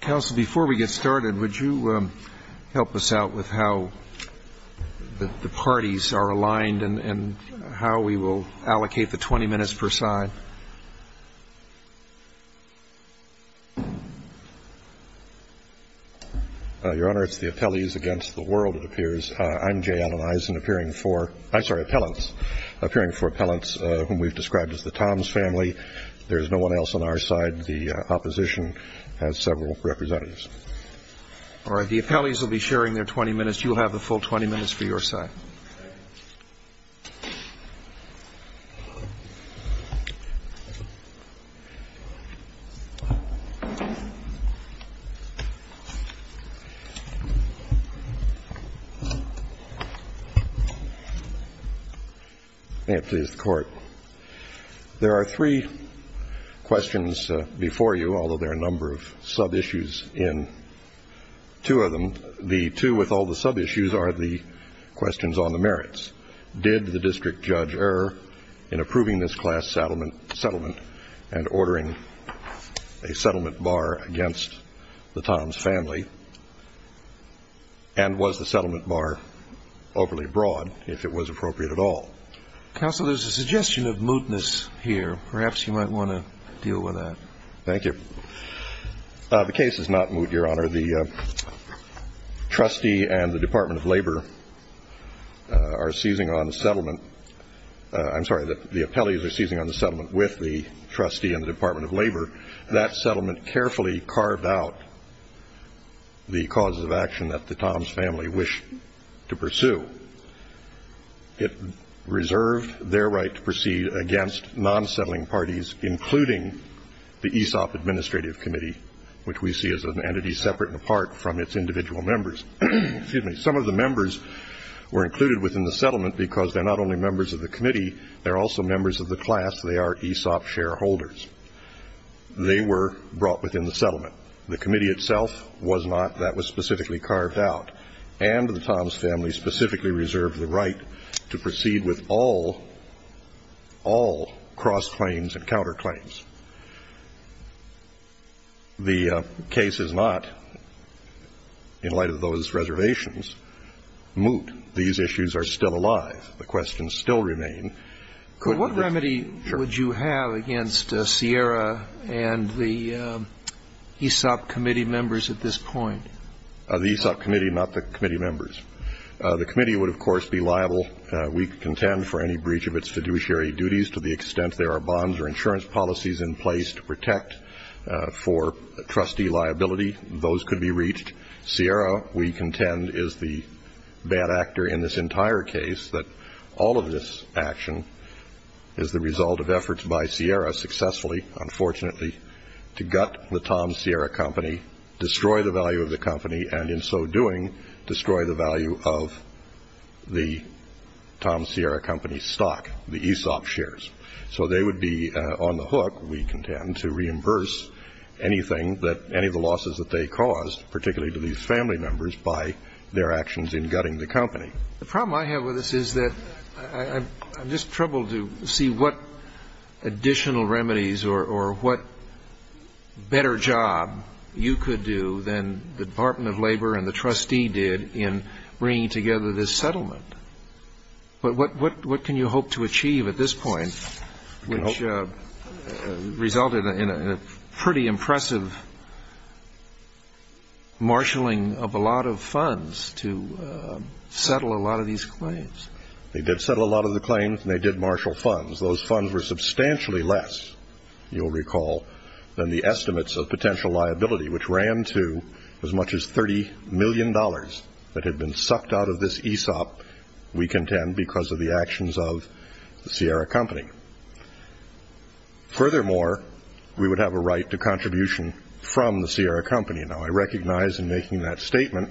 Council, before we get started, would you help us out with how the parties are aligned and how we will allocate the 20 minutes per side? Your Honor, it's the appellees against the world, it appears. I'm Jay Allen Eisen, appearing for – I'm sorry, appellants, appearing for appellants whom we've described as the Toms family. There's no one else on our side. The opposition has several representatives. All right. The appellees will be sharing their 20 minutes. You'll have the full 20 minutes for your side. May it please the Court. There are three questions before you, although there are a number of sub-issues in two of them. The two with all the sub-issues are the questions on the merits. Did the district judge err in approving this class settlement and ordering a settlement bar against the Toms family? And was the settlement bar overly broad, if it was appropriate at all? Counsel, there's a suggestion of mootness here. Perhaps you might want to deal with that. Thank you. The case is not moot, Your Honor. The trustee and the Department of Labor are seizing on the settlement. I'm sorry, the appellees are seizing on the settlement with the trustee and the Department of Labor. That settlement carefully carved out the causes of action that the Toms family wished to pursue. It reserved their right to proceed against non-settling parties, including the Aesop Administrative Committee, which we see as an entity separate and apart from its individual members. Some of the members were included within the settlement because they're not only members of the committee, they're also members of the class, they are Aesop shareholders. They were brought within the settlement. The committee itself was not. That was specifically carved out. And the Toms family specifically reserved the right to proceed with all cross-claims and counter-claims. The case is not, in light of those reservations, moot. These issues are still alive. The questions still remain. What remedy would you have against Sierra and the Aesop committee members at this point? The Aesop committee, not the committee members. The committee would, of course, be liable, we contend, for any breach of its fiduciary duties to the extent there are bonds or insurance policies in place to protect for trustee liability. Those could be reached. Sierra, we contend, is the bad actor in this entire case, that all of this action is the result of efforts by Sierra successfully, unfortunately, to gut the Toms-Sierra company, destroy the value of the company, and in so doing destroy the value of the Toms-Sierra company's stock, the Aesop shares. So they would be on the hook, we contend, to reimburse anything that any of the losses that they caused, particularly to these family members, by their actions in gutting the company. The problem I have with this is that I'm just troubled to see what additional remedies or what better job you could do than the Department of Labor and the trustee did in bringing together this settlement. But what can you hope to achieve at this point, which resulted in a pretty impressive marshalling of a lot of funds to settle a lot of these claims? They did settle a lot of the claims and they did marshal funds. Those funds were substantially less, you'll recall, than the estimates of potential liability, which ran to as much as $30 million that had been sucked out of this Aesop, we contend, because of the actions of the Sierra company. Furthermore, we would have a right to contribution from the Sierra company. Now, I recognize in making that statement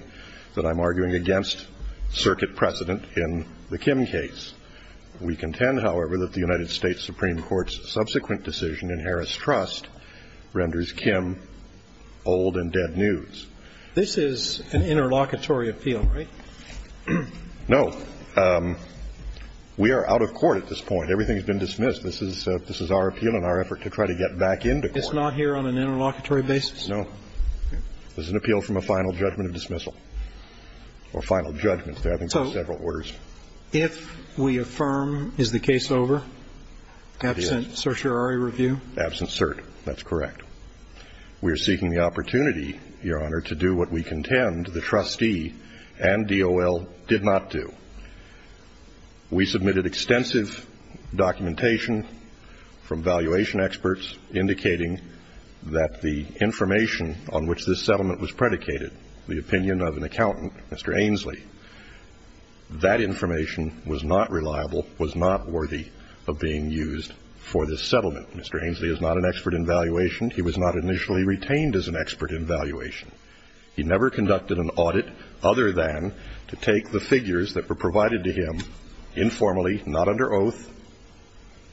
that I'm arguing against circuit precedent in the Kim case. We contend, however, that the United States Supreme Court's subsequent decision in Harris Trust renders Kim old and dead news. This is an interlocutory appeal, right? No. We are out of court at this point. Everything has been dismissed. This is our appeal and our effort to try to get back into court. It's not here on an interlocutory basis? No. This is an appeal from a final judgment of dismissal or final judgment. I think there are several orders. So if we affirm, is the case over, absent certiorari review? Absent cert. That's correct. We are seeking the opportunity, Your Honor, to do what we contend the trustee and DOL did not do. We submitted extensive documentation from valuation experts indicating that the information on which this settlement was predicated, the opinion of an accountant, Mr. Ainslie, that information was not reliable, was not worthy of being used for this settlement. Mr. Ainslie is not an expert in valuation. He was not initially retained as an expert in valuation. He never conducted an audit other than to take the figures that were provided to him informally, not under oath,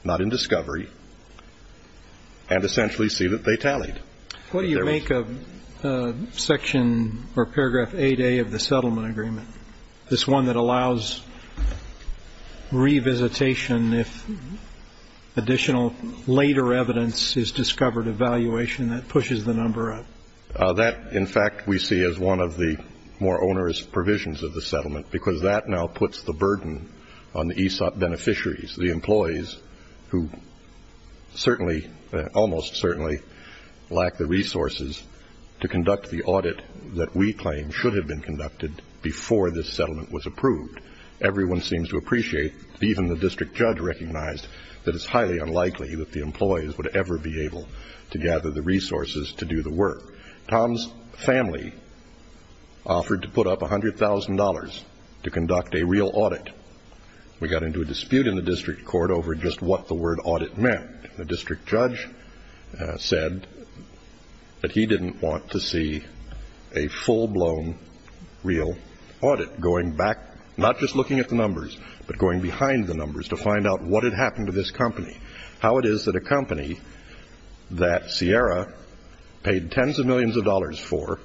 not in discovery, and essentially see that they tallied. What do you make of section or paragraph 8A of the settlement agreement, this one that allows revisitation if additional later evidence is discovered of valuation that pushes the number up? That, in fact, we see as one of the more onerous provisions of the settlement because that now puts the burden on the ESOP beneficiaries, the employees who certainly, almost certainly, lack the resources to conduct the audit that we claim should have been conducted before this settlement was approved. Everyone seems to appreciate, even the district judge recognized, that it's highly unlikely that the employees would ever be able to gather the resources to do the work. Tom's family offered to put up $100,000 to conduct a real audit. We got into a dispute in the district court over just what the word audit meant. The district judge said that he didn't want to see a full-blown real audit going back, not just looking at the numbers, but going behind the numbers to find out what had happened to this company, how it is that a company that Sierra paid tens of millions of dollars for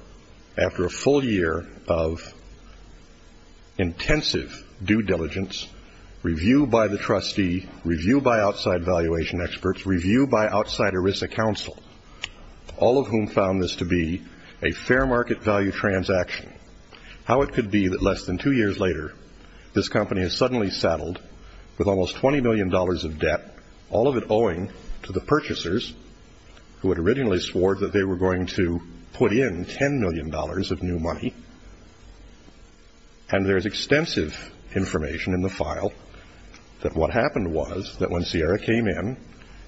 after a full year of intensive due diligence, review by the trustee, review by outside valuation experts, review by outside ERISA counsel, all of whom found this to be a fair market value transaction, how it could be that less than two years later this company is suddenly saddled with almost $20 million of debt, all of it owing to the purchasers who had originally swore that they were going to put in $10 million of new money, and there is extensive information in the file that what happened was that when Sierra came in,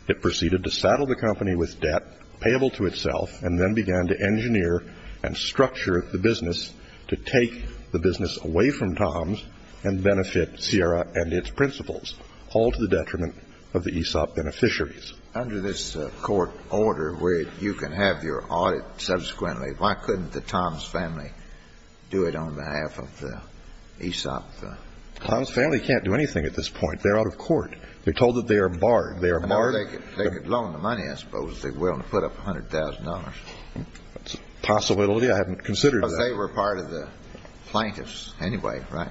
it proceeded to saddle the company with debt payable to itself and then began to engineer and structure the business to take the business away from Tom's and benefit Sierra and its principals, all to the detriment of the ESOP beneficiaries. Under this court order where you can have your audit subsequently, why couldn't the Tom's family do it on behalf of the ESOP? Tom's family can't do anything at this point. They're out of court. They're told that they are barred. They are barred. They could loan the money, I suppose, if they were willing to put up $100,000. That's a possibility. I haven't considered that. But they were part of the plaintiffs anyway, right?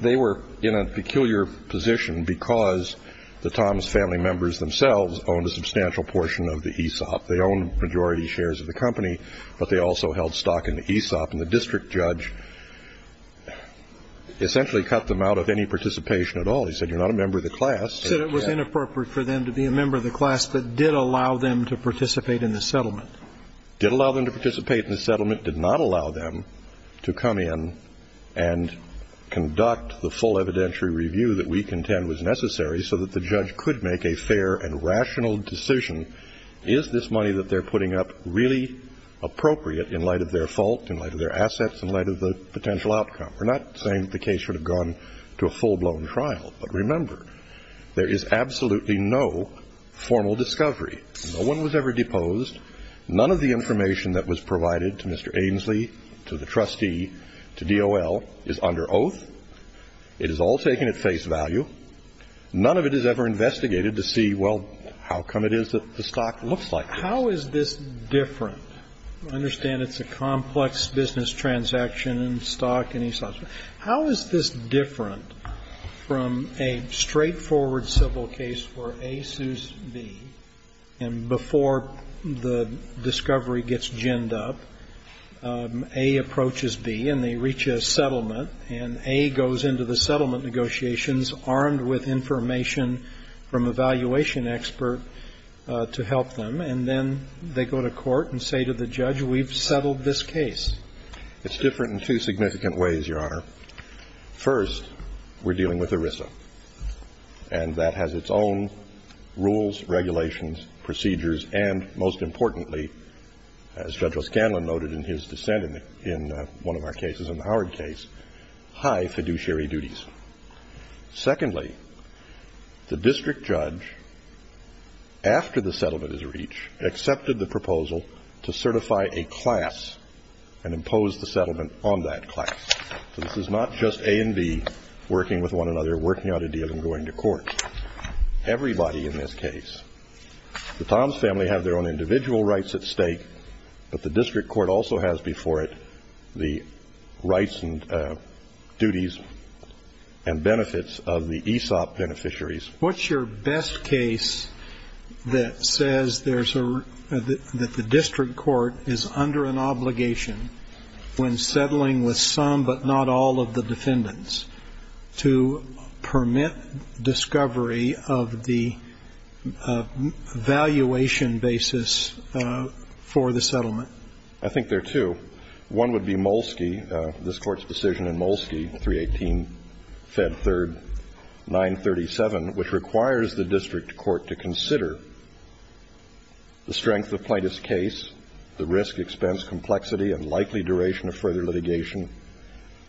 They were in a peculiar position because the Tom's family members themselves owned a substantial portion of the ESOP. They owned the majority shares of the company, but they also held stock in the ESOP. And the district judge essentially cut them out of any participation at all. He said, you're not a member of the class. He said it was inappropriate for them to be a member of the class, but did allow them to participate in the settlement. Did allow them to participate in the settlement. Did not allow them to come in and conduct the full evidentiary review that we contend was necessary so that the judge could make a fair and rational decision, is this money that they're putting up really appropriate in light of their fault, in light of their assets, in light of the potential outcome? We're not saying that the case should have gone to a full-blown trial. But remember, there is absolutely no formal discovery. No one was ever deposed. None of the information that was provided to Mr. Ainslie, to the trustee, to DOL, is under oath. It is all taken at face value. None of it is ever investigated to see, well, how come it is that the stock looks like this? How is this different? I understand it's a complex business transaction and stock and ESOP. How is this different from a straightforward civil case where A sues B and before the discovery gets ginned up, A approaches B and they reach a settlement and A goes into the settlement negotiations armed with information from an evaluation expert to help them, and then they go to court and say to the judge, we've settled this case. It's different in two significant ways, Your Honor. First, we're dealing with ERISA, and that has its own rules, regulations, procedures, and most importantly, as Judge O'Scanlan noted in his dissent in one of our cases, in the Howard case, high fiduciary duties. Secondly, the district judge, after the settlement is reached, accepted the proposal to certify a class and impose the settlement on that class. So this is not just A and B working with one another, working out a deal and going to court. Everybody in this case, the Toms family have their own individual rights at stake, but the district court also has before it the rights and duties and benefits of the ESOP beneficiaries. What's your best case that says there's a, that the district court is under an obligation when settling with some but not all of the defendants to permit discovery of the valuation basis for the settlement? I think there are two. One would be Molsky. This Court's decision in Molsky, 318 Fed 3rd, 937, which requires the district court to consider the strength of Plaintiff's case, the risk, expense, complexity and likely duration of further litigation,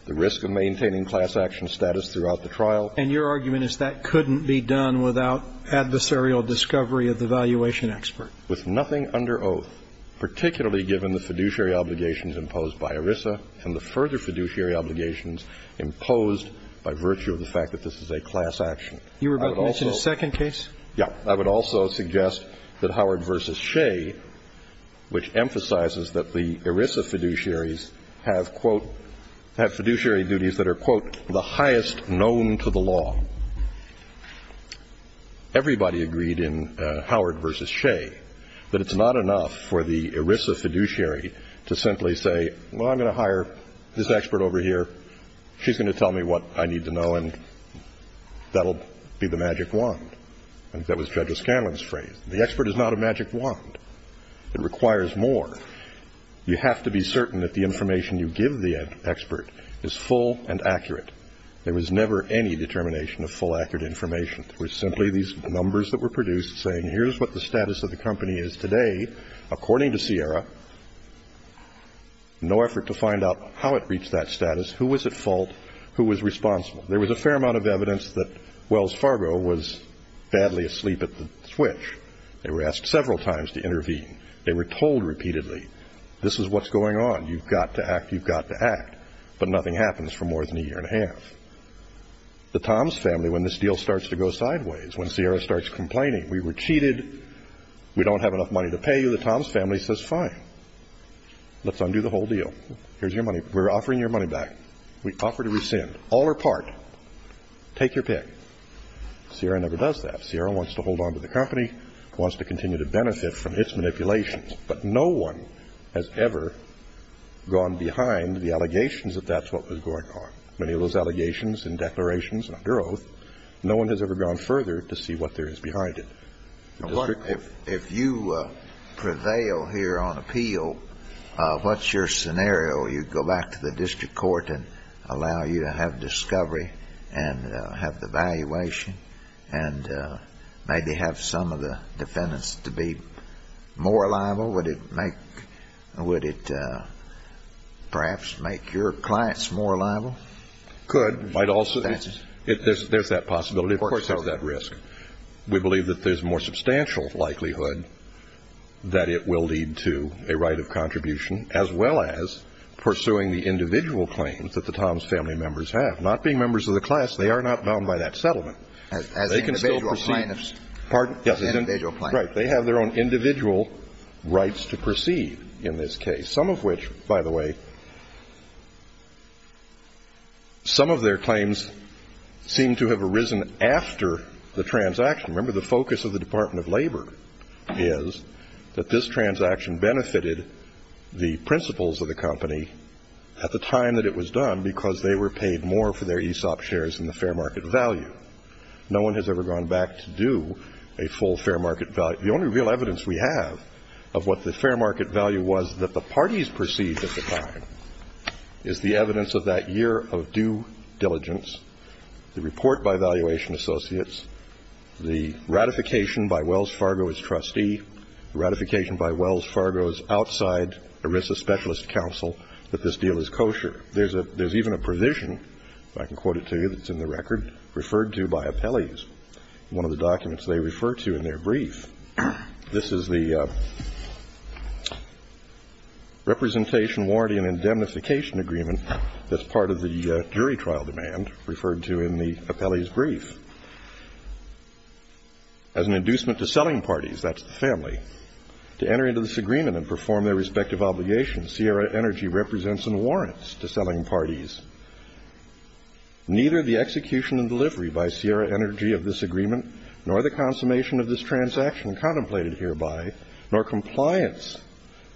the risk of maintaining class action status throughout the trial. And your argument is that couldn't be done without adversarial discovery of the valuation expert? With nothing under oath, particularly given the fiduciary obligations imposed by ERISA and the further fiduciary obligations imposed by virtue of the fact that this is a class action. You were about to mention a second case? Yeah. I would also suggest that Howard v. Shea, which emphasizes that the ERISA fiduciaries have, quote, have fiduciary duties that are, quote, the highest known to the law. Everybody agreed in Howard v. Shea that it's not enough for the ERISA fiduciary to simply say, well, I'm going to hire this expert over here. She's going to tell me what I need to know, and that will be the magic wand. That was Judge Scanlon's phrase. The expert is not a magic wand. It requires more. You have to be certain that the information you give the expert is full and accurate. There was never any determination of full, accurate information. It was simply these numbers that were produced saying here's what the status of the company is today. According to Sierra, no effort to find out how it reached that status, who was at fault, who was responsible. There was a fair amount of evidence that Wells Fargo was badly asleep at the switch. They were asked several times to intervene. They were told repeatedly, this is what's going on. You've got to act. You've got to act. But nothing happens for more than a year and a half. The Toms family, when this deal starts to go sideways, when Sierra starts complaining, we were cheated, we don't have enough money to pay you, the Toms family says fine. Let's undo the whole deal. Here's your money. We're offering your money back. We offer to rescind. All or part. Take your pick. Sierra never does that. Sierra wants to hold on to the company, wants to continue to benefit from its manipulations. But no one has ever gone behind the allegations that that's what was going on. Many of those allegations and declarations under oath, no one has ever gone further to see what there is behind it. If you prevail here on appeal, what's your scenario? You go back to the district court and allow you to have discovery and have the valuation and maybe have some of the defendants to be more liable? Would it perhaps make your clients more liable? Could. There's that possibility. Of course, there's that risk. We believe that there's more substantial likelihood that it will lead to a right of contribution as well as pursuing the individual claims that the Toms family members have. Not being members of the class, they are not bound by that settlement. They can still proceed. As an individual client. Pardon? As an individual client. Right. They have their own individual rights to proceed in this case, some of which, by the way, some of their claims seem to have arisen after the transaction. Remember, the focus of the Department of Labor is that this transaction benefited the principles of the company at the time that it was done because they were paid more for their ESOP shares than the fair market value. No one has ever gone back to do a full fair market value. But the only real evidence we have of what the fair market value was that the parties perceived at the time is the evidence of that year of due diligence, the report by Valuation Associates, the ratification by Wells Fargo's trustee, the ratification by Wells Fargo's outside ERISA Specialist Council that this deal is kosher. There's even a provision, if I can quote it to you, that's in the record, referred to by appellees in one of the documents they refer to in their brief. This is the representation, warranty, and indemnification agreement that's part of the jury trial demand referred to in the appellee's brief. As an inducement to selling parties, that's the family, to enter into this agreement and perform their respective obligations, Sierra Energy represents and warrants to selling parties. Neither the execution and delivery by Sierra Energy of this agreement nor the consummation of this transaction contemplated hereby nor compliance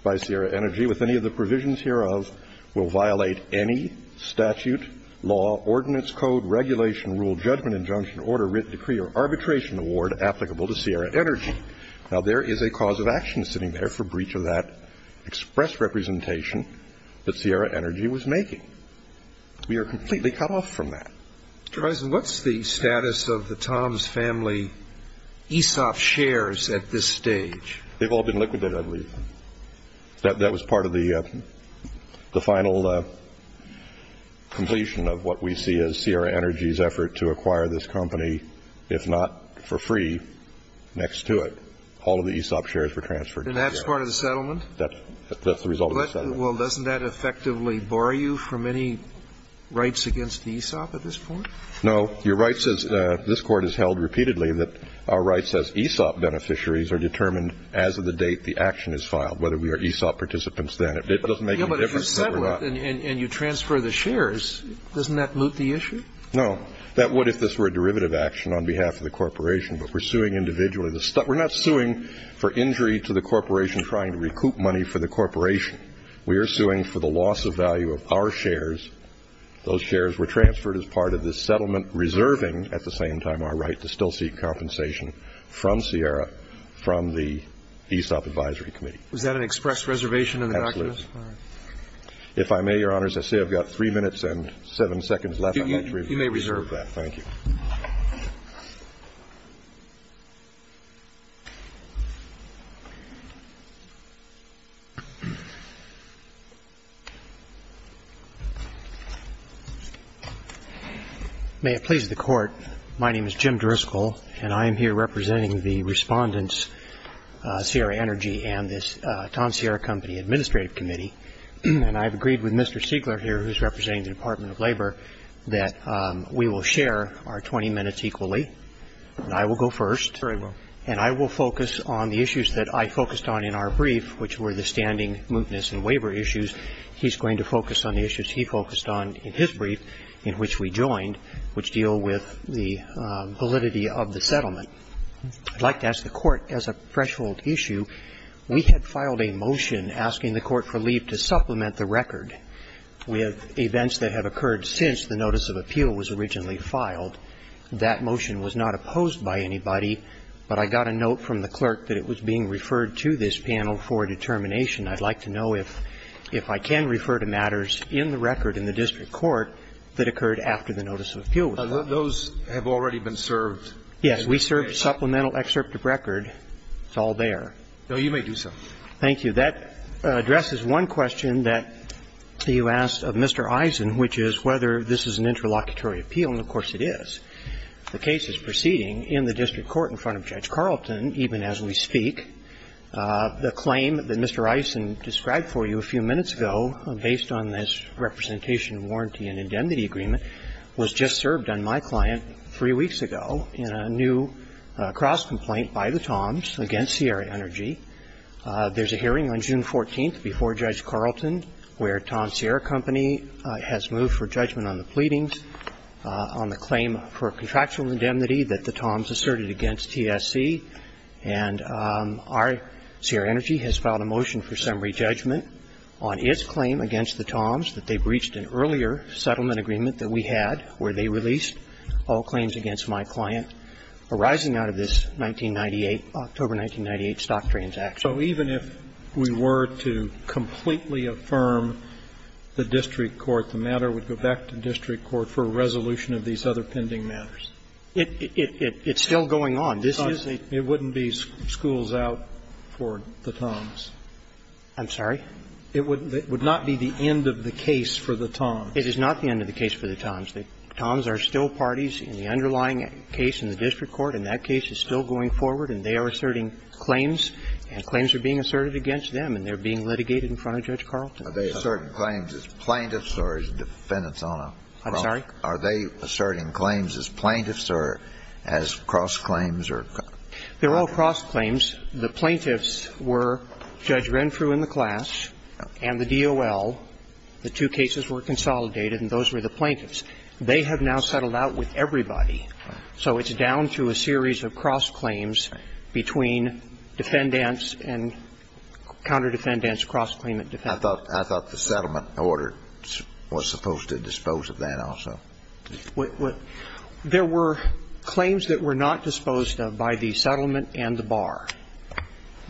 by Sierra Energy with any of the provisions hereof will violate any statute, law, ordinance, code, regulation, rule, judgment, injunction, order, writ, decree, or arbitration award applicable to Sierra Energy. Now, there is a cause of action sitting there for breach of that express representation that Sierra Energy was making. We are completely cut off from that. Mr. Risen, what's the status of the Toms family ESOP shares at this stage? They've all been liquidated, I believe. That was part of the final completion of what we see as Sierra Energy's effort to acquire this company, if not for free, next to it. All of the ESOP shares were transferred to Sierra. That's the result of the settlement. Well, doesn't that effectively bar you from any rights against ESOP at this point? No. Your right says this Court has held repeatedly that our rights as ESOP beneficiaries are determined as of the date the action is filed, whether we are ESOP participants then. It doesn't make any difference whether we're not. Yeah, but if you settle it and you transfer the shares, doesn't that moot the issue? No. That would if this were a derivative action on behalf of the corporation, but we're suing individually. We're not suing for injury to the corporation trying to recoup money for the corporation. We are suing for the loss of value of our shares. Those shares were transferred as part of this settlement, reserving at the same time our right to still seek compensation from Sierra, from the ESOP Advisory Committee. Was that an express reservation in the documents? Absolutely. All right. If I may, Your Honors, I say I've got three minutes and seven seconds left. You may reserve that. May it please the Court. My name is Jim Driscoll, and I am here representing the Respondents, Sierra Energy and this Tom Sierra Company Administrative Committee. And I've agreed with Mr. Siegler here, who's representing the Department of Labor, that we will share our 20 minutes equally. And I will go first. Very well. And I will focus on the issues that I focused on in our brief, which were the standing mootness and waiver issues. He's going to focus on the issues he focused on in his brief in which we joined, which deal with the validity of the settlement. I'd like to ask the Court, as a threshold issue, we had filed a motion asking the that motion was not opposed by anybody, but I got a note from the clerk that it was being referred to this panel for determination. I'd like to know if I can refer to matters in the record in the district court that occurred after the notice of appeal was made. Those have already been served. Yes. We served supplemental excerpt of record. It's all there. No, you may do so. Thank you. That addresses one question that you asked of Mr. Eisen, which is whether this is an interlocutory appeal, and, of course, it is. The case is proceeding in the district court in front of Judge Carlton, even as we speak. The claim that Mr. Eisen described for you a few minutes ago, based on this representation warranty and indemnity agreement, was just served on my client three weeks ago in a new cross-complaint by the Toms against Sierra Energy. There's a hearing on June 14th before Judge Carlton where Toms Sierra Company has moved for judgment on the pleadings on the claim for contractual indemnity that the Toms asserted against TSC, and our Sierra Energy has filed a motion for summary judgment on its claim against the Toms that they breached an earlier settlement agreement that we had where they released all claims against my client arising out of this 1998, October 1998, stock transaction. So even if we were to completely affirm the district court, the matter would go back to district court for a resolution of these other pending matters? It's still going on. It wouldn't be schools out for the Toms. I'm sorry? It would not be the end of the case for the Toms. It is not the end of the case for the Toms. The Toms are still parties in the underlying case in the district court, and that case is still going forward, and they are asserting claims, and claims are being asserted against them, and they're being litigated in front of Judge Carlton. Are they asserting claims as plaintiffs or as defendants on a cross? I'm sorry? Are they asserting claims as plaintiffs or as cross-claims or cross-claims? They're all cross-claims. The plaintiffs were Judge Renfrew and the class and the DOL. The two cases were consolidated and those were the plaintiffs. They have now settled out with everybody. So it's down to a series of cross-claims between defendants and counter-defendants, cross-claimant defendants. I thought the settlement order was supposed to dispose of that also. There were claims that were not disposed of by the settlement and the bar.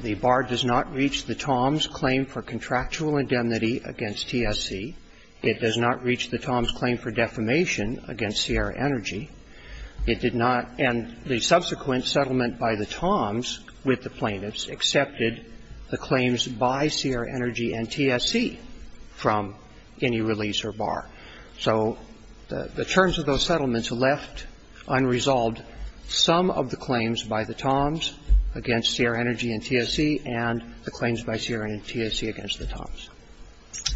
The bar does not reach the TOMS claim for contractual indemnity against TSC. It does not reach the TOMS claim for defamation against Sierra Energy. It did not, and the subsequent settlement by the TOMS with the plaintiffs accepted the claims by Sierra Energy and TSC from any release or bar. So the terms of those settlements left unresolved some of the claims by the TOMS against Sierra Energy and TSC and the claims by Sierra Energy and TSC against the TOMS.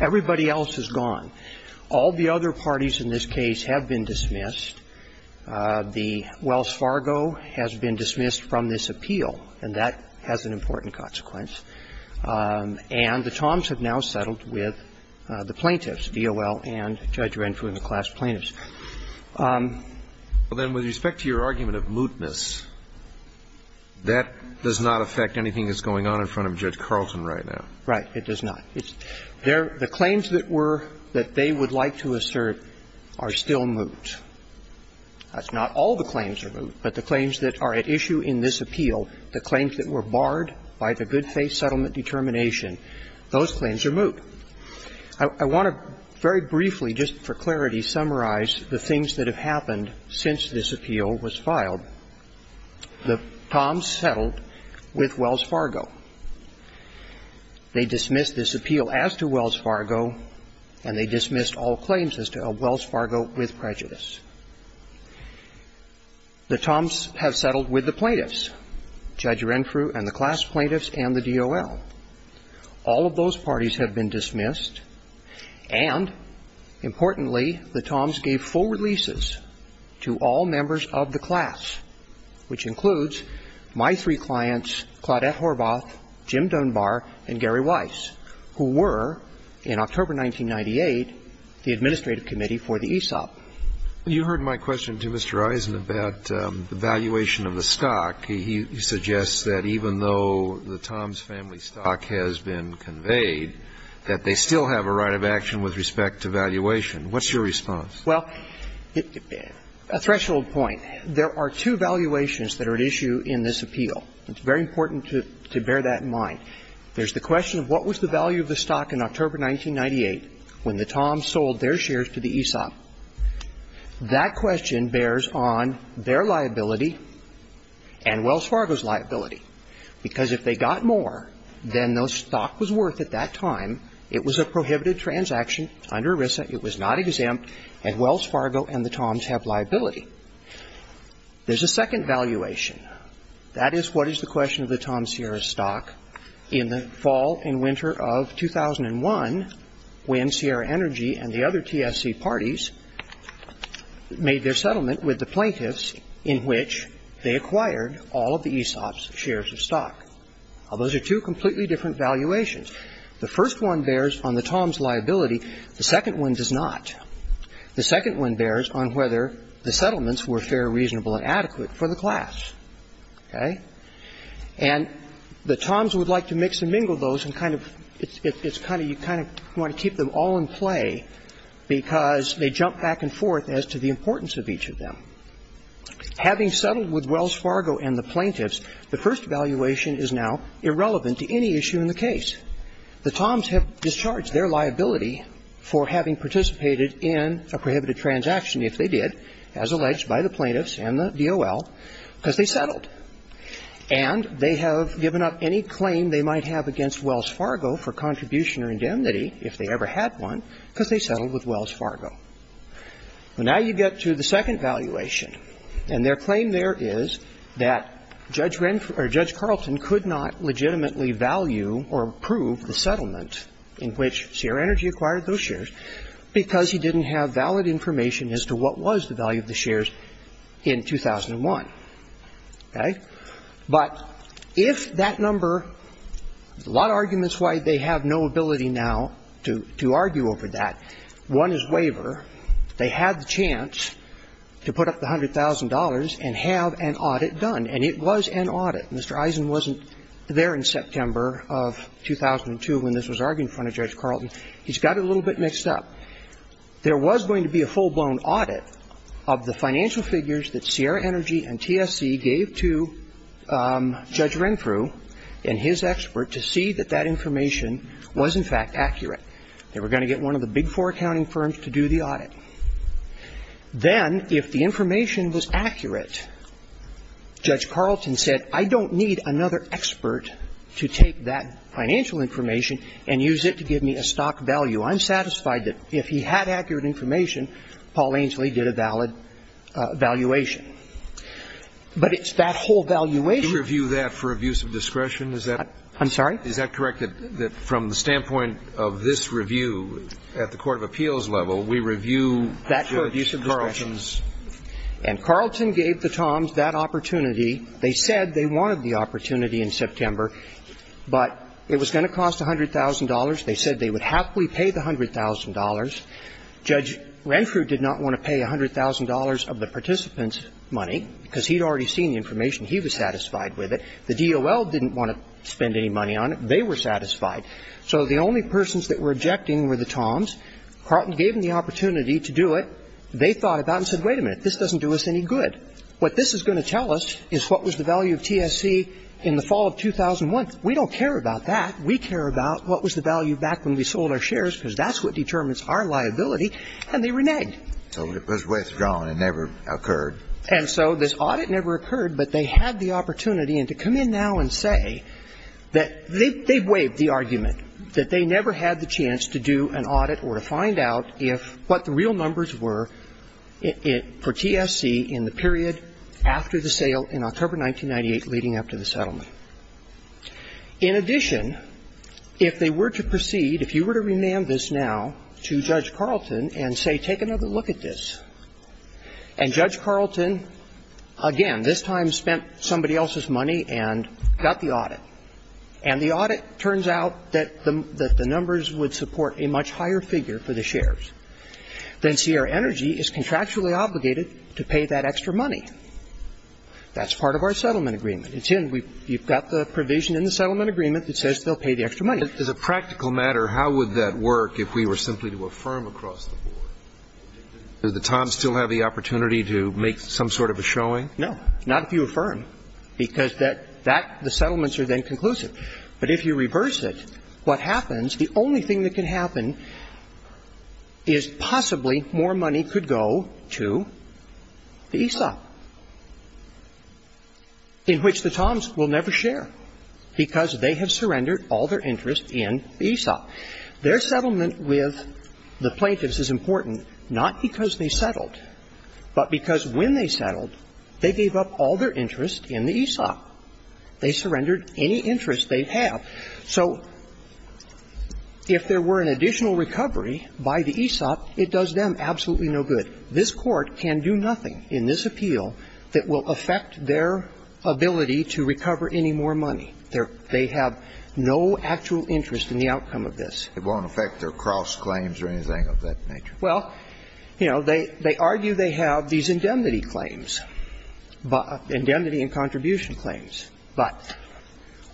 Everybody else is gone. All the other parties in this case have been dismissed. The Wells Fargo has been dismissed from this appeal, and that has an important consequence. And the TOMS have now settled with the plaintiffs, DOL and Judge Renfrew and the class plaintiffs. Well, then, with respect to your argument of mootness, that does not affect anything that's going on in front of Judge Carlton right now. Right. It does not. The claims that were that they would like to assert are still moot. That's not all the claims are moot, but the claims that are at issue in this appeal, the claims that were barred by the good faith settlement determination, those claims are moot. I want to very briefly, just for clarity, summarize the things that have happened since this appeal was filed. The TOMS settled with Wells Fargo. They dismissed this appeal as to Wells Fargo, and they dismissed all claims as to Wells Fargo with prejudice. The TOMS have settled with the plaintiffs, Judge Renfrew and the class plaintiffs and the DOL. All of those parties have been dismissed. And, importantly, the TOMS gave full releases to all members of the class, which includes my three clients, Claudette Horvath, Jim Dunbar and Gary Weiss, who were in October 1998 the administrative committee for the ESOP. You heard my question to Mr. Eisen about the valuation of the stock. He suggests that even though the TOMS family stock has been conveyed, that they still have a right of action with respect to valuation. What's your response? Well, a threshold point. There are two valuations that are at issue in this appeal. It's very important to bear that in mind. There's the question of what was the value of the stock in October 1998 when the TOMS sold their shares to the ESOP. That question bears on their liability and Wells Fargo's liability, because if they got more than the stock was worth at that time, it was a prohibited transaction under ERISA, it was not exempt, and Wells Fargo and the TOMS have liability. There's a second valuation. That is what is the question of the TOMS Sierra stock in the fall and winter of 2001 when Sierra Energy and the other TSC parties made their settlement with the plaintiffs in which they acquired all of the ESOP's shares of stock. Now, those are two completely different valuations. The first one bears on the TOMS' liability. The second one does not. The second one bears on whether the settlements were fair, reasonable, and adequate for the class. Okay? And the TOMS would like to mix and mingle those and kind of you kind of want to keep them all in play because they jump back and forth as to the importance of each of them. Having settled with Wells Fargo and the plaintiffs, the first valuation is now irrelevant to any issue in the case. The TOMS have discharged their liability for having participated in a prohibited transaction if they did, as alleged by the plaintiffs and the DOL, because they settled. And they have given up any claim they might have against Wells Fargo for contribution or indemnity if they ever had one because they settled with Wells Fargo. Well, now you get to the second valuation. And their claim there is that Judge Carlton could not legitimately value or approve the settlement in which Sierra Energy acquired those shares because he didn't have valid information as to what was the value of the shares in 2001. Okay? But if that number, there's a lot of arguments why they have no ability now to argue over that. One is waiver. They had the chance to put up the $100,000 and have an audit done. And it was an audit. Mr. Eisen wasn't there in September of 2002 when this was argued in front of Judge Carlton. He's got it a little bit mixed up. Now, there was going to be a full-blown audit of the financial figures that Sierra Energy and TSC gave to Judge Renfrew and his expert to see that that information was, in fact, accurate. They were going to get one of the big four accounting firms to do the audit. Then, if the information was accurate, Judge Carlton said, I don't need another expert to take that financial information and use it to give me a stock value. I'm satisfied that if he had accurate information, Paul Ainslie did a valid valuation. But it's that whole valuation. You review that for abuse of discretion? I'm sorry? Is that correct, that from the standpoint of this review at the court of appeals level, we review the abuse of discretion? That's correct. And Carlton gave the Toms that opportunity. They said they wanted the opportunity in September. But it was going to cost $100,000. They said they would happily pay the $100,000. Judge Renfrew did not want to pay $100,000 of the participants' money, because he had already seen the information. He was satisfied with it. The DOL didn't want to spend any money on it. They were satisfied. So the only persons that were objecting were the Toms. Carlton gave them the opportunity to do it. They thought about it and said, wait a minute, this doesn't do us any good. What this is going to tell us is what was the value of TSC in the fall of 2001. We don't care about that. We care about what was the value back when we sold our shares, because that's what determines our liability. And they reneged. So it was withdrawn. It never occurred. And so this audit never occurred, but they had the opportunity. And to come in now and say that they waived the argument, that they never had the chance to do an audit or to find out if what the real numbers were for TSC in the period after the sale in October 1998 leading up to the settlement. In addition, if they were to proceed, if you were to remand this now to Judge Carlton and say, take another look at this, and Judge Carlton, again, this time spent somebody else's money and got the audit, and the audit turns out that the numbers would support a much higher figure for the shares, then Sierra Energy is contractually obligated to pay that extra money. That's part of our settlement agreement. It's in. You've got the provision in the settlement agreement that says they'll pay the extra money. But as a practical matter, how would that work if we were simply to affirm across the board? Does the Times still have the opportunity to make some sort of a showing? No. Not if you affirm, because that the settlements are then conclusive. But if you reverse it, what happens, the only thing that can happen is possibly more money could go to the ESOP, in which the Times will never share because they have surrendered all their interest in the ESOP. Their settlement with the plaintiffs is important not because they settled, but because when they settled, they gave up all their interest in the ESOP. They surrendered any interest they have. So if there were an additional recovery by the ESOP, it does them absolutely no good. This Court can do nothing in this appeal that will affect their ability to recover any more money. They have no actual interest in the outcome of this. It won't affect their cross claims or anything of that nature. Well, you know, they argue they have these indemnity claims, indemnity and contribution claims, but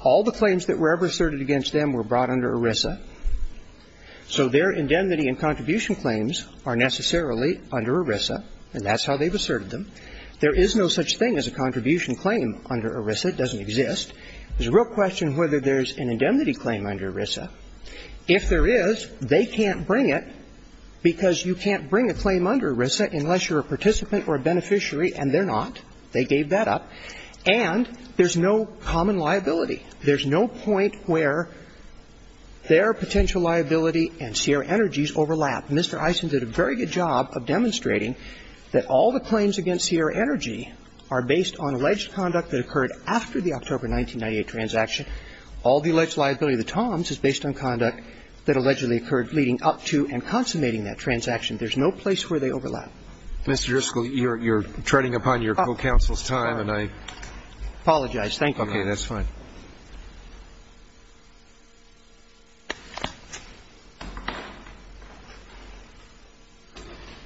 all the claims that were ever asserted against them were brought under ERISA, so their indemnity and contribution claims are necessarily under ERISA, and that's how they've asserted them. There is no such thing as a contribution claim under ERISA. It doesn't exist. There's a real question whether there's an indemnity claim under ERISA. If there is, they can't bring it because you can't bring a claim under ERISA unless you're a participant or a beneficiary, and they're not. They gave that up. And there's no common liability. There's no point where their potential liability and Sierra Energy's overlap. Mr. Eisen did a very good job of demonstrating that all the claims against Sierra Energy are based on alleged conduct that occurred after the October 1998 transaction. All the alleged liability of the Toms is based on conduct that allegedly occurred leading up to and consummating that transaction. There's no place where they overlap. Mr. Driscoll, you're treading upon your co-counsel's time, and I apologize. Thank you. Okay. That's fine.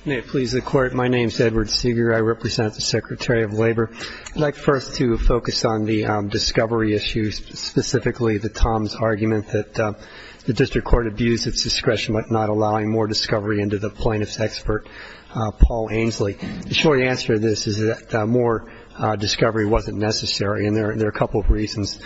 May it please the Court. My name is Edward Seeger. I represent the Secretary of Labor. I'd like first to focus on the discovery issues, specifically the Toms argument that the district court abused its discretion by not allowing more discovery into the plaintiff's expert, Paul Ainslie. The short answer to this is that more discovery wasn't necessary, and there are a couple of reasons.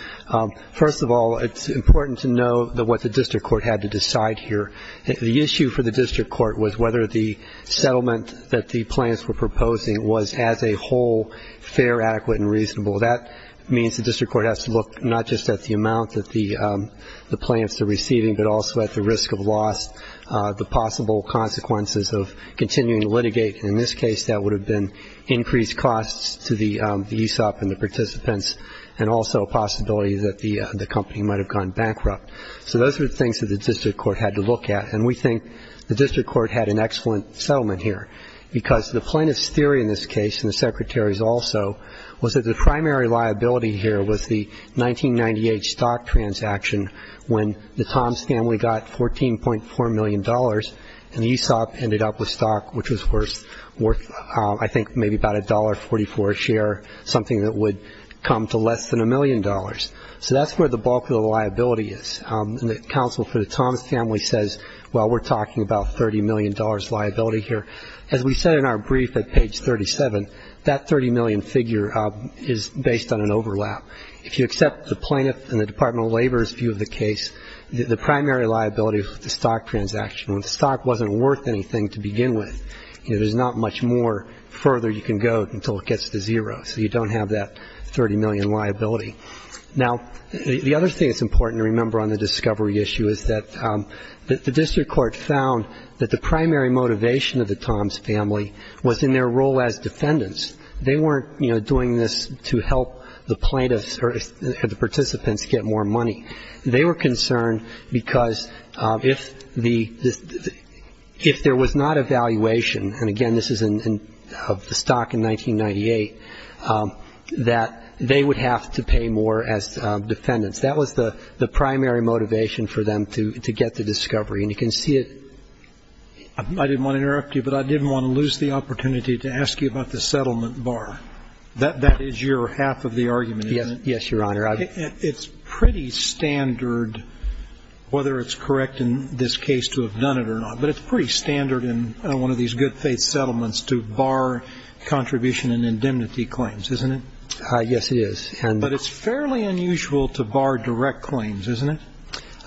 First of all, it's important to know what the district court had to decide here. The issue for the district court was whether the settlement that the plaintiffs were proposing was as a whole fair, adequate, and reasonable. That means the district court has to look not just at the amount that the plaintiffs are receiving, but also at the risk of loss, the possible consequences of continuing to litigate. In this case, that would have been increased costs to the ESOP and the participants and also a possibility that the company might have gone bankrupt. So those are the things that the district court had to look at, and we think the district court had an excellent settlement here because the plaintiff's theory in this case, and the Secretary's also, was that the primary liability here was the 1998 stock transaction when the Toms family got $14.4 million, and ESOP ended up with stock which was worth, I think, maybe about $1.44 a share, something that would come to less than $1 million. So that's where the bulk of the liability is. And the counsel for the Toms family says, well, we're talking about $30 million liability here. As we said in our brief at page 37, that $30 million figure is based on an overlap. If you accept the plaintiff and the Department of Labor's view of the case, the primary liability is the stock transaction. When the stock wasn't worth anything to begin with, there's not much more further you can go until it gets to zero, so you don't have that $30 million liability. Now, the other thing that's important to remember on the discovery issue is that the district court found that the primary motivation of the Toms family was in their role as defendants. They weren't, you know, doing this to help the plaintiffs or the participants get more money. They were concerned because if there was not a valuation, and again, this is of the stock in 1998, that they would have to pay more as defendants. That was the primary motivation for them to get the discovery. And you can see it. I didn't want to interrupt you, but I didn't want to lose the opportunity to ask you about the settlement bar. That is your half of the argument, isn't it? Yes, Your Honor. It's pretty standard, whether it's correct in this case to have done it or not, but it's pretty standard in one of these good faith settlements to bar contribution and indemnity claims, isn't it? Yes, it is. But it's fairly unusual to bar direct claims, isn't it?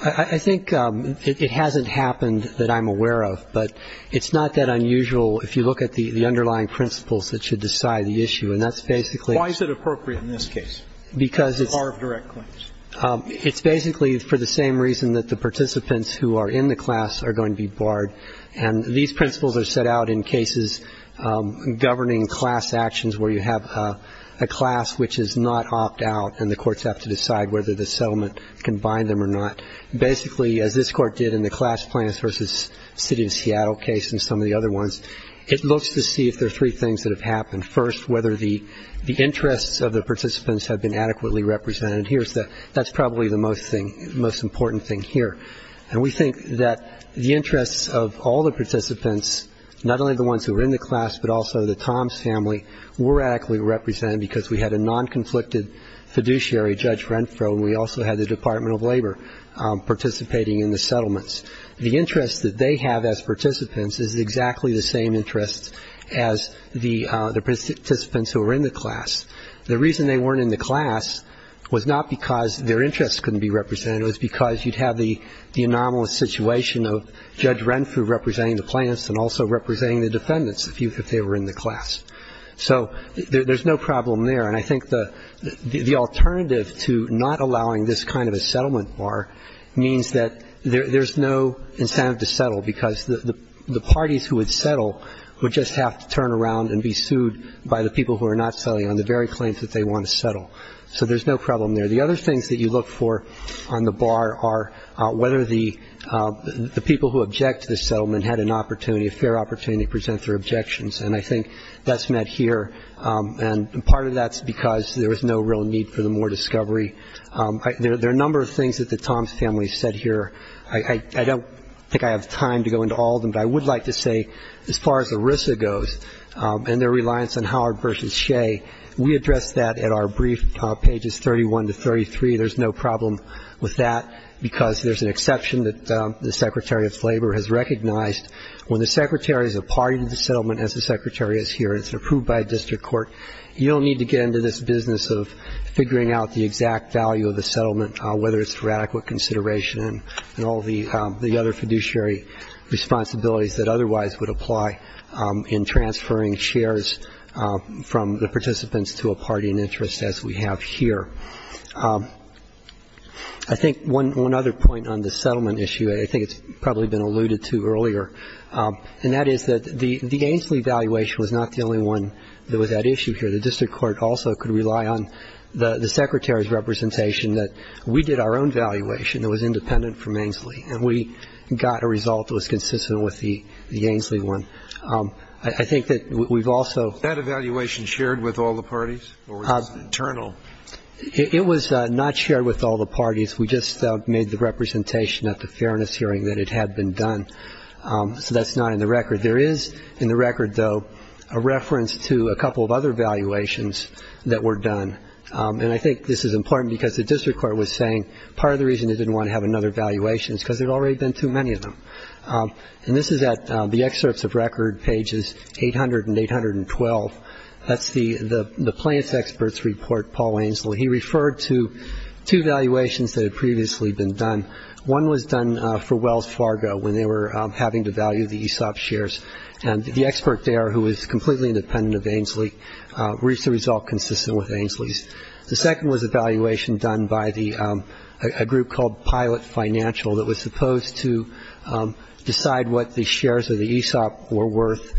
I think it hasn't happened that I'm aware of, but it's not that unusual if you look at the underlying principles that should decide the issue. And that's basically why. Why is it appropriate in this case to bar direct claims? It's basically for the same reason that the participants who are in the class are going to be barred. And these principles are set out in cases governing class actions where you have a class which is not opt out and the courts have to decide whether the settlement can bind them or not. Basically, as this court did in the class plans versus city of Seattle case and some of the other ones, it looks to see if there are three things that have happened. First, whether the interests of the participants have been adequately represented. That's probably the most thing, most important thing here. And we think that the interests of all the participants, not only the ones who are in the class, but also the Tom's family, were adequately represented because we had a non-conflicted fiduciary, Judge Renfro, and we also had the Department of Labor participating in the settlements. The interest that they have as participants is exactly the same interest as the participants who are in the class. The reason they weren't in the class was not because their interests couldn't be represented. It was because you'd have the anomalous situation of Judge Renfro representing the plaintiffs and also representing the defendants if they were in the class. So there's no problem there. And I think the alternative to not allowing this kind of a settlement bar means that there's no incentive to settle because the parties who would settle would just have to turn around and be sued by the people who are not settling on the very claims that they want to settle. So there's no problem there. The other things that you look for on the bar are whether the people who object to the settlement had an opportunity, a fair opportunity to present their objections. And I think that's met here. And part of that's because there was no real need for the more discovery. There are a number of things that the Tom's family said here. I don't think I have time to go into all of them, but I would like to say as far as ERISA goes and their reliance on Howard v. Shea, we addressed that at our brief pages 31 to 33. There's no problem with that because there's an exception that the Secretary of Labor has recognized. When the Secretary is a party to the settlement, as the Secretary is here, and it's approved by a district court, you don't need to get into this business of figuring out the exact value of the settlement, whether it's for adequate consideration and all the other fiduciary responsibilities that otherwise would apply in transferring shares from the participants to a party in interest, as we have here. I think one other point on the settlement issue, I think it's probably been alluded to earlier, and that is that the Ainslie valuation was not the only one that was at issue here. The district court also could rely on the Secretary's representation that we did our own valuation. It was independent from Ainslie, and we got a result that was consistent with the Ainslie one. I think that we've also ---- That evaluation shared with all the parties or was it internal? It was not shared with all the parties. We just made the representation at the fairness hearing that it had been done, so that's not in the record. There is in the record, though, a reference to a couple of other valuations that were done, and I think this is important because the district court was saying part of the reason they didn't want to have another valuation is because there had already been too many of them. And this is at the excerpts of record, pages 800 and 812. That's the plans expert's report, Paul Ainslie. He referred to two valuations that had previously been done. One was done for Wells Fargo when they were having to value the ESOP shares, and the expert there, who was completely independent of Ainslie, reached a result consistent with Ainslie's. The second was a valuation done by a group called Pilot Financial that was supposed to decide what the shares of the ESOP were worth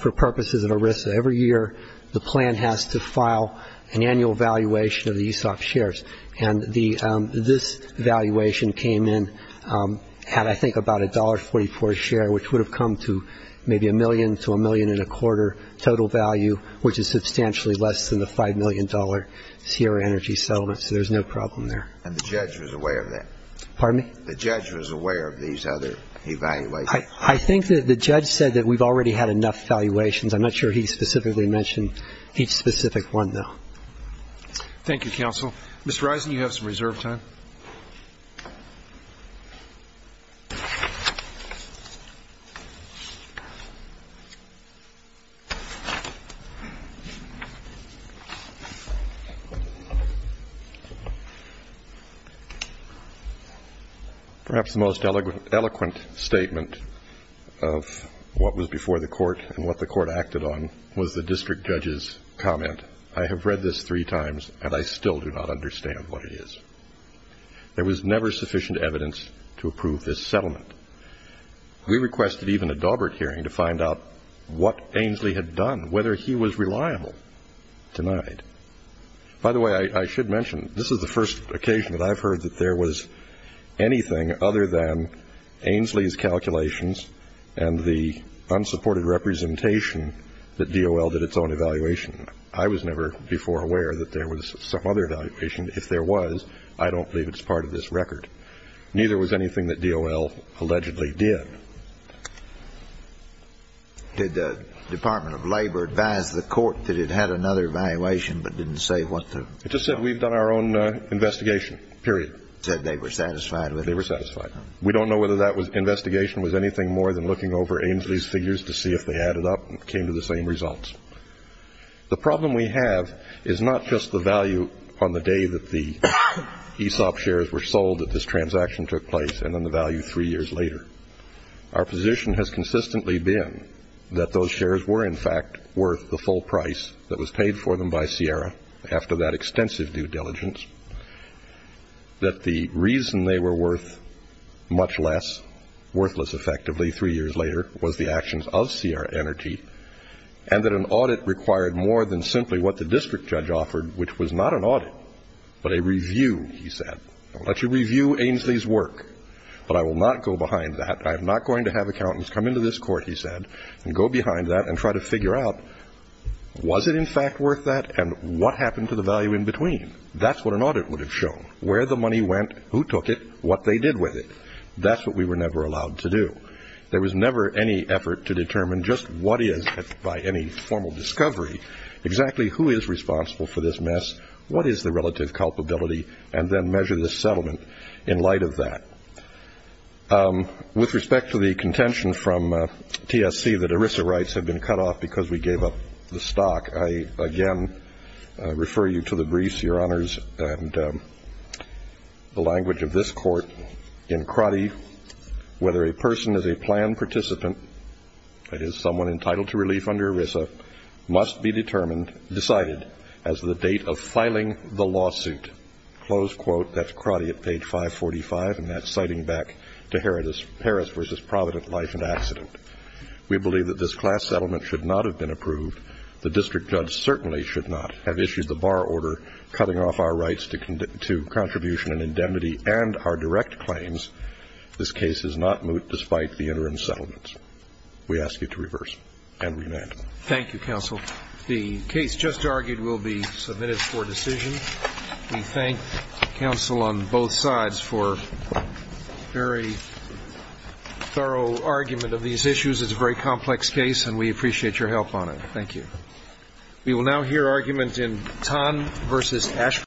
for purposes of ERISA. Every year the plan has to file an annual valuation of the ESOP shares, and this valuation came in at, I think, about $1.44 a share, which would have come to maybe a million to a million and a quarter total value, which is substantially less than the $5 million Sierra Energy settlement, so there's no problem there. And the judge was aware of that? Pardon me? The judge was aware of these other evaluations? I think that the judge said that we've already had enough valuations. I'm not sure he specifically mentioned each specific one, though. Thank you, counsel. Mr. Risen, you have some reserve time. Perhaps the most eloquent statement of what was before the court and what the court acted on was the district judge's comment. I have read this three times, and I still do not understand what it is. There was never sufficient evidence to approve this settlement. We requested even a Daubert hearing to find out what Ainslie had done, whether he was reliable. Denied. By the way, I should mention, this is the first occasion that I've heard that there was anything other than Ainslie's calculations and the unsupported representation that DOL did its own evaluation. I was never before aware that there was some other evaluation. If there was, I don't believe it's part of this record. Neither was anything that DOL allegedly did. Did the Department of Labor advise the court that it had another evaluation but didn't say what the ---- It just said we've done our own investigation, period. Said they were satisfied with it. They were satisfied. We don't know whether that investigation was anything more than looking over Ainslie's figures to see if they added up and came to the same results. The problem we have is not just the value on the day that the ESOP shares were sold, that this transaction took place, and then the value three years later. Our position has consistently been that those shares were, in fact, worth the full price that was paid for them by Sierra after that extensive due diligence, that the reason they were worth much less, worthless, effectively, three years later, was the actions of Sierra Energy, and that an audit required more than simply what the district judge offered, which was not an audit, but a review, he said. I'll let you review Ainslie's work, but I will not go behind that. I am not going to have accountants come into this court, he said, and go behind that and try to figure out, was it, in fact, worth that, and what happened to the value in between? That's what an audit would have shown, where the money went, who took it, what they did with it. That's what we were never allowed to do. There was never any effort to determine just what is, by any formal discovery, exactly who is responsible for this mess, what is the relative culpability, and then measure the settlement in light of that. With respect to the contention from TSC that ERISA rights have been cut off because we gave up the stock, I again refer you to the briefs, Your Honors, and the language of this court in Crotty. Whether a person is a planned participant, that is, someone entitled to relief under ERISA, must be determined, decided, as the date of filing the lawsuit. Close quote. That's Crotty at page 545, and that's citing back to Harris versus Provident Life and Accident. We believe that this class settlement should not have been approved. The district judge certainly should not have issued the bar order cutting off our rights to contribution and indemnity and our direct claims. This case is not moot despite the interim settlements. We ask you to reverse and remand. Thank you, counsel. The case just argued will be submitted for decision. We thank counsel on both sides for a very thorough argument of these issues. It's a very complex case, and we appreciate your help on it. Thank you.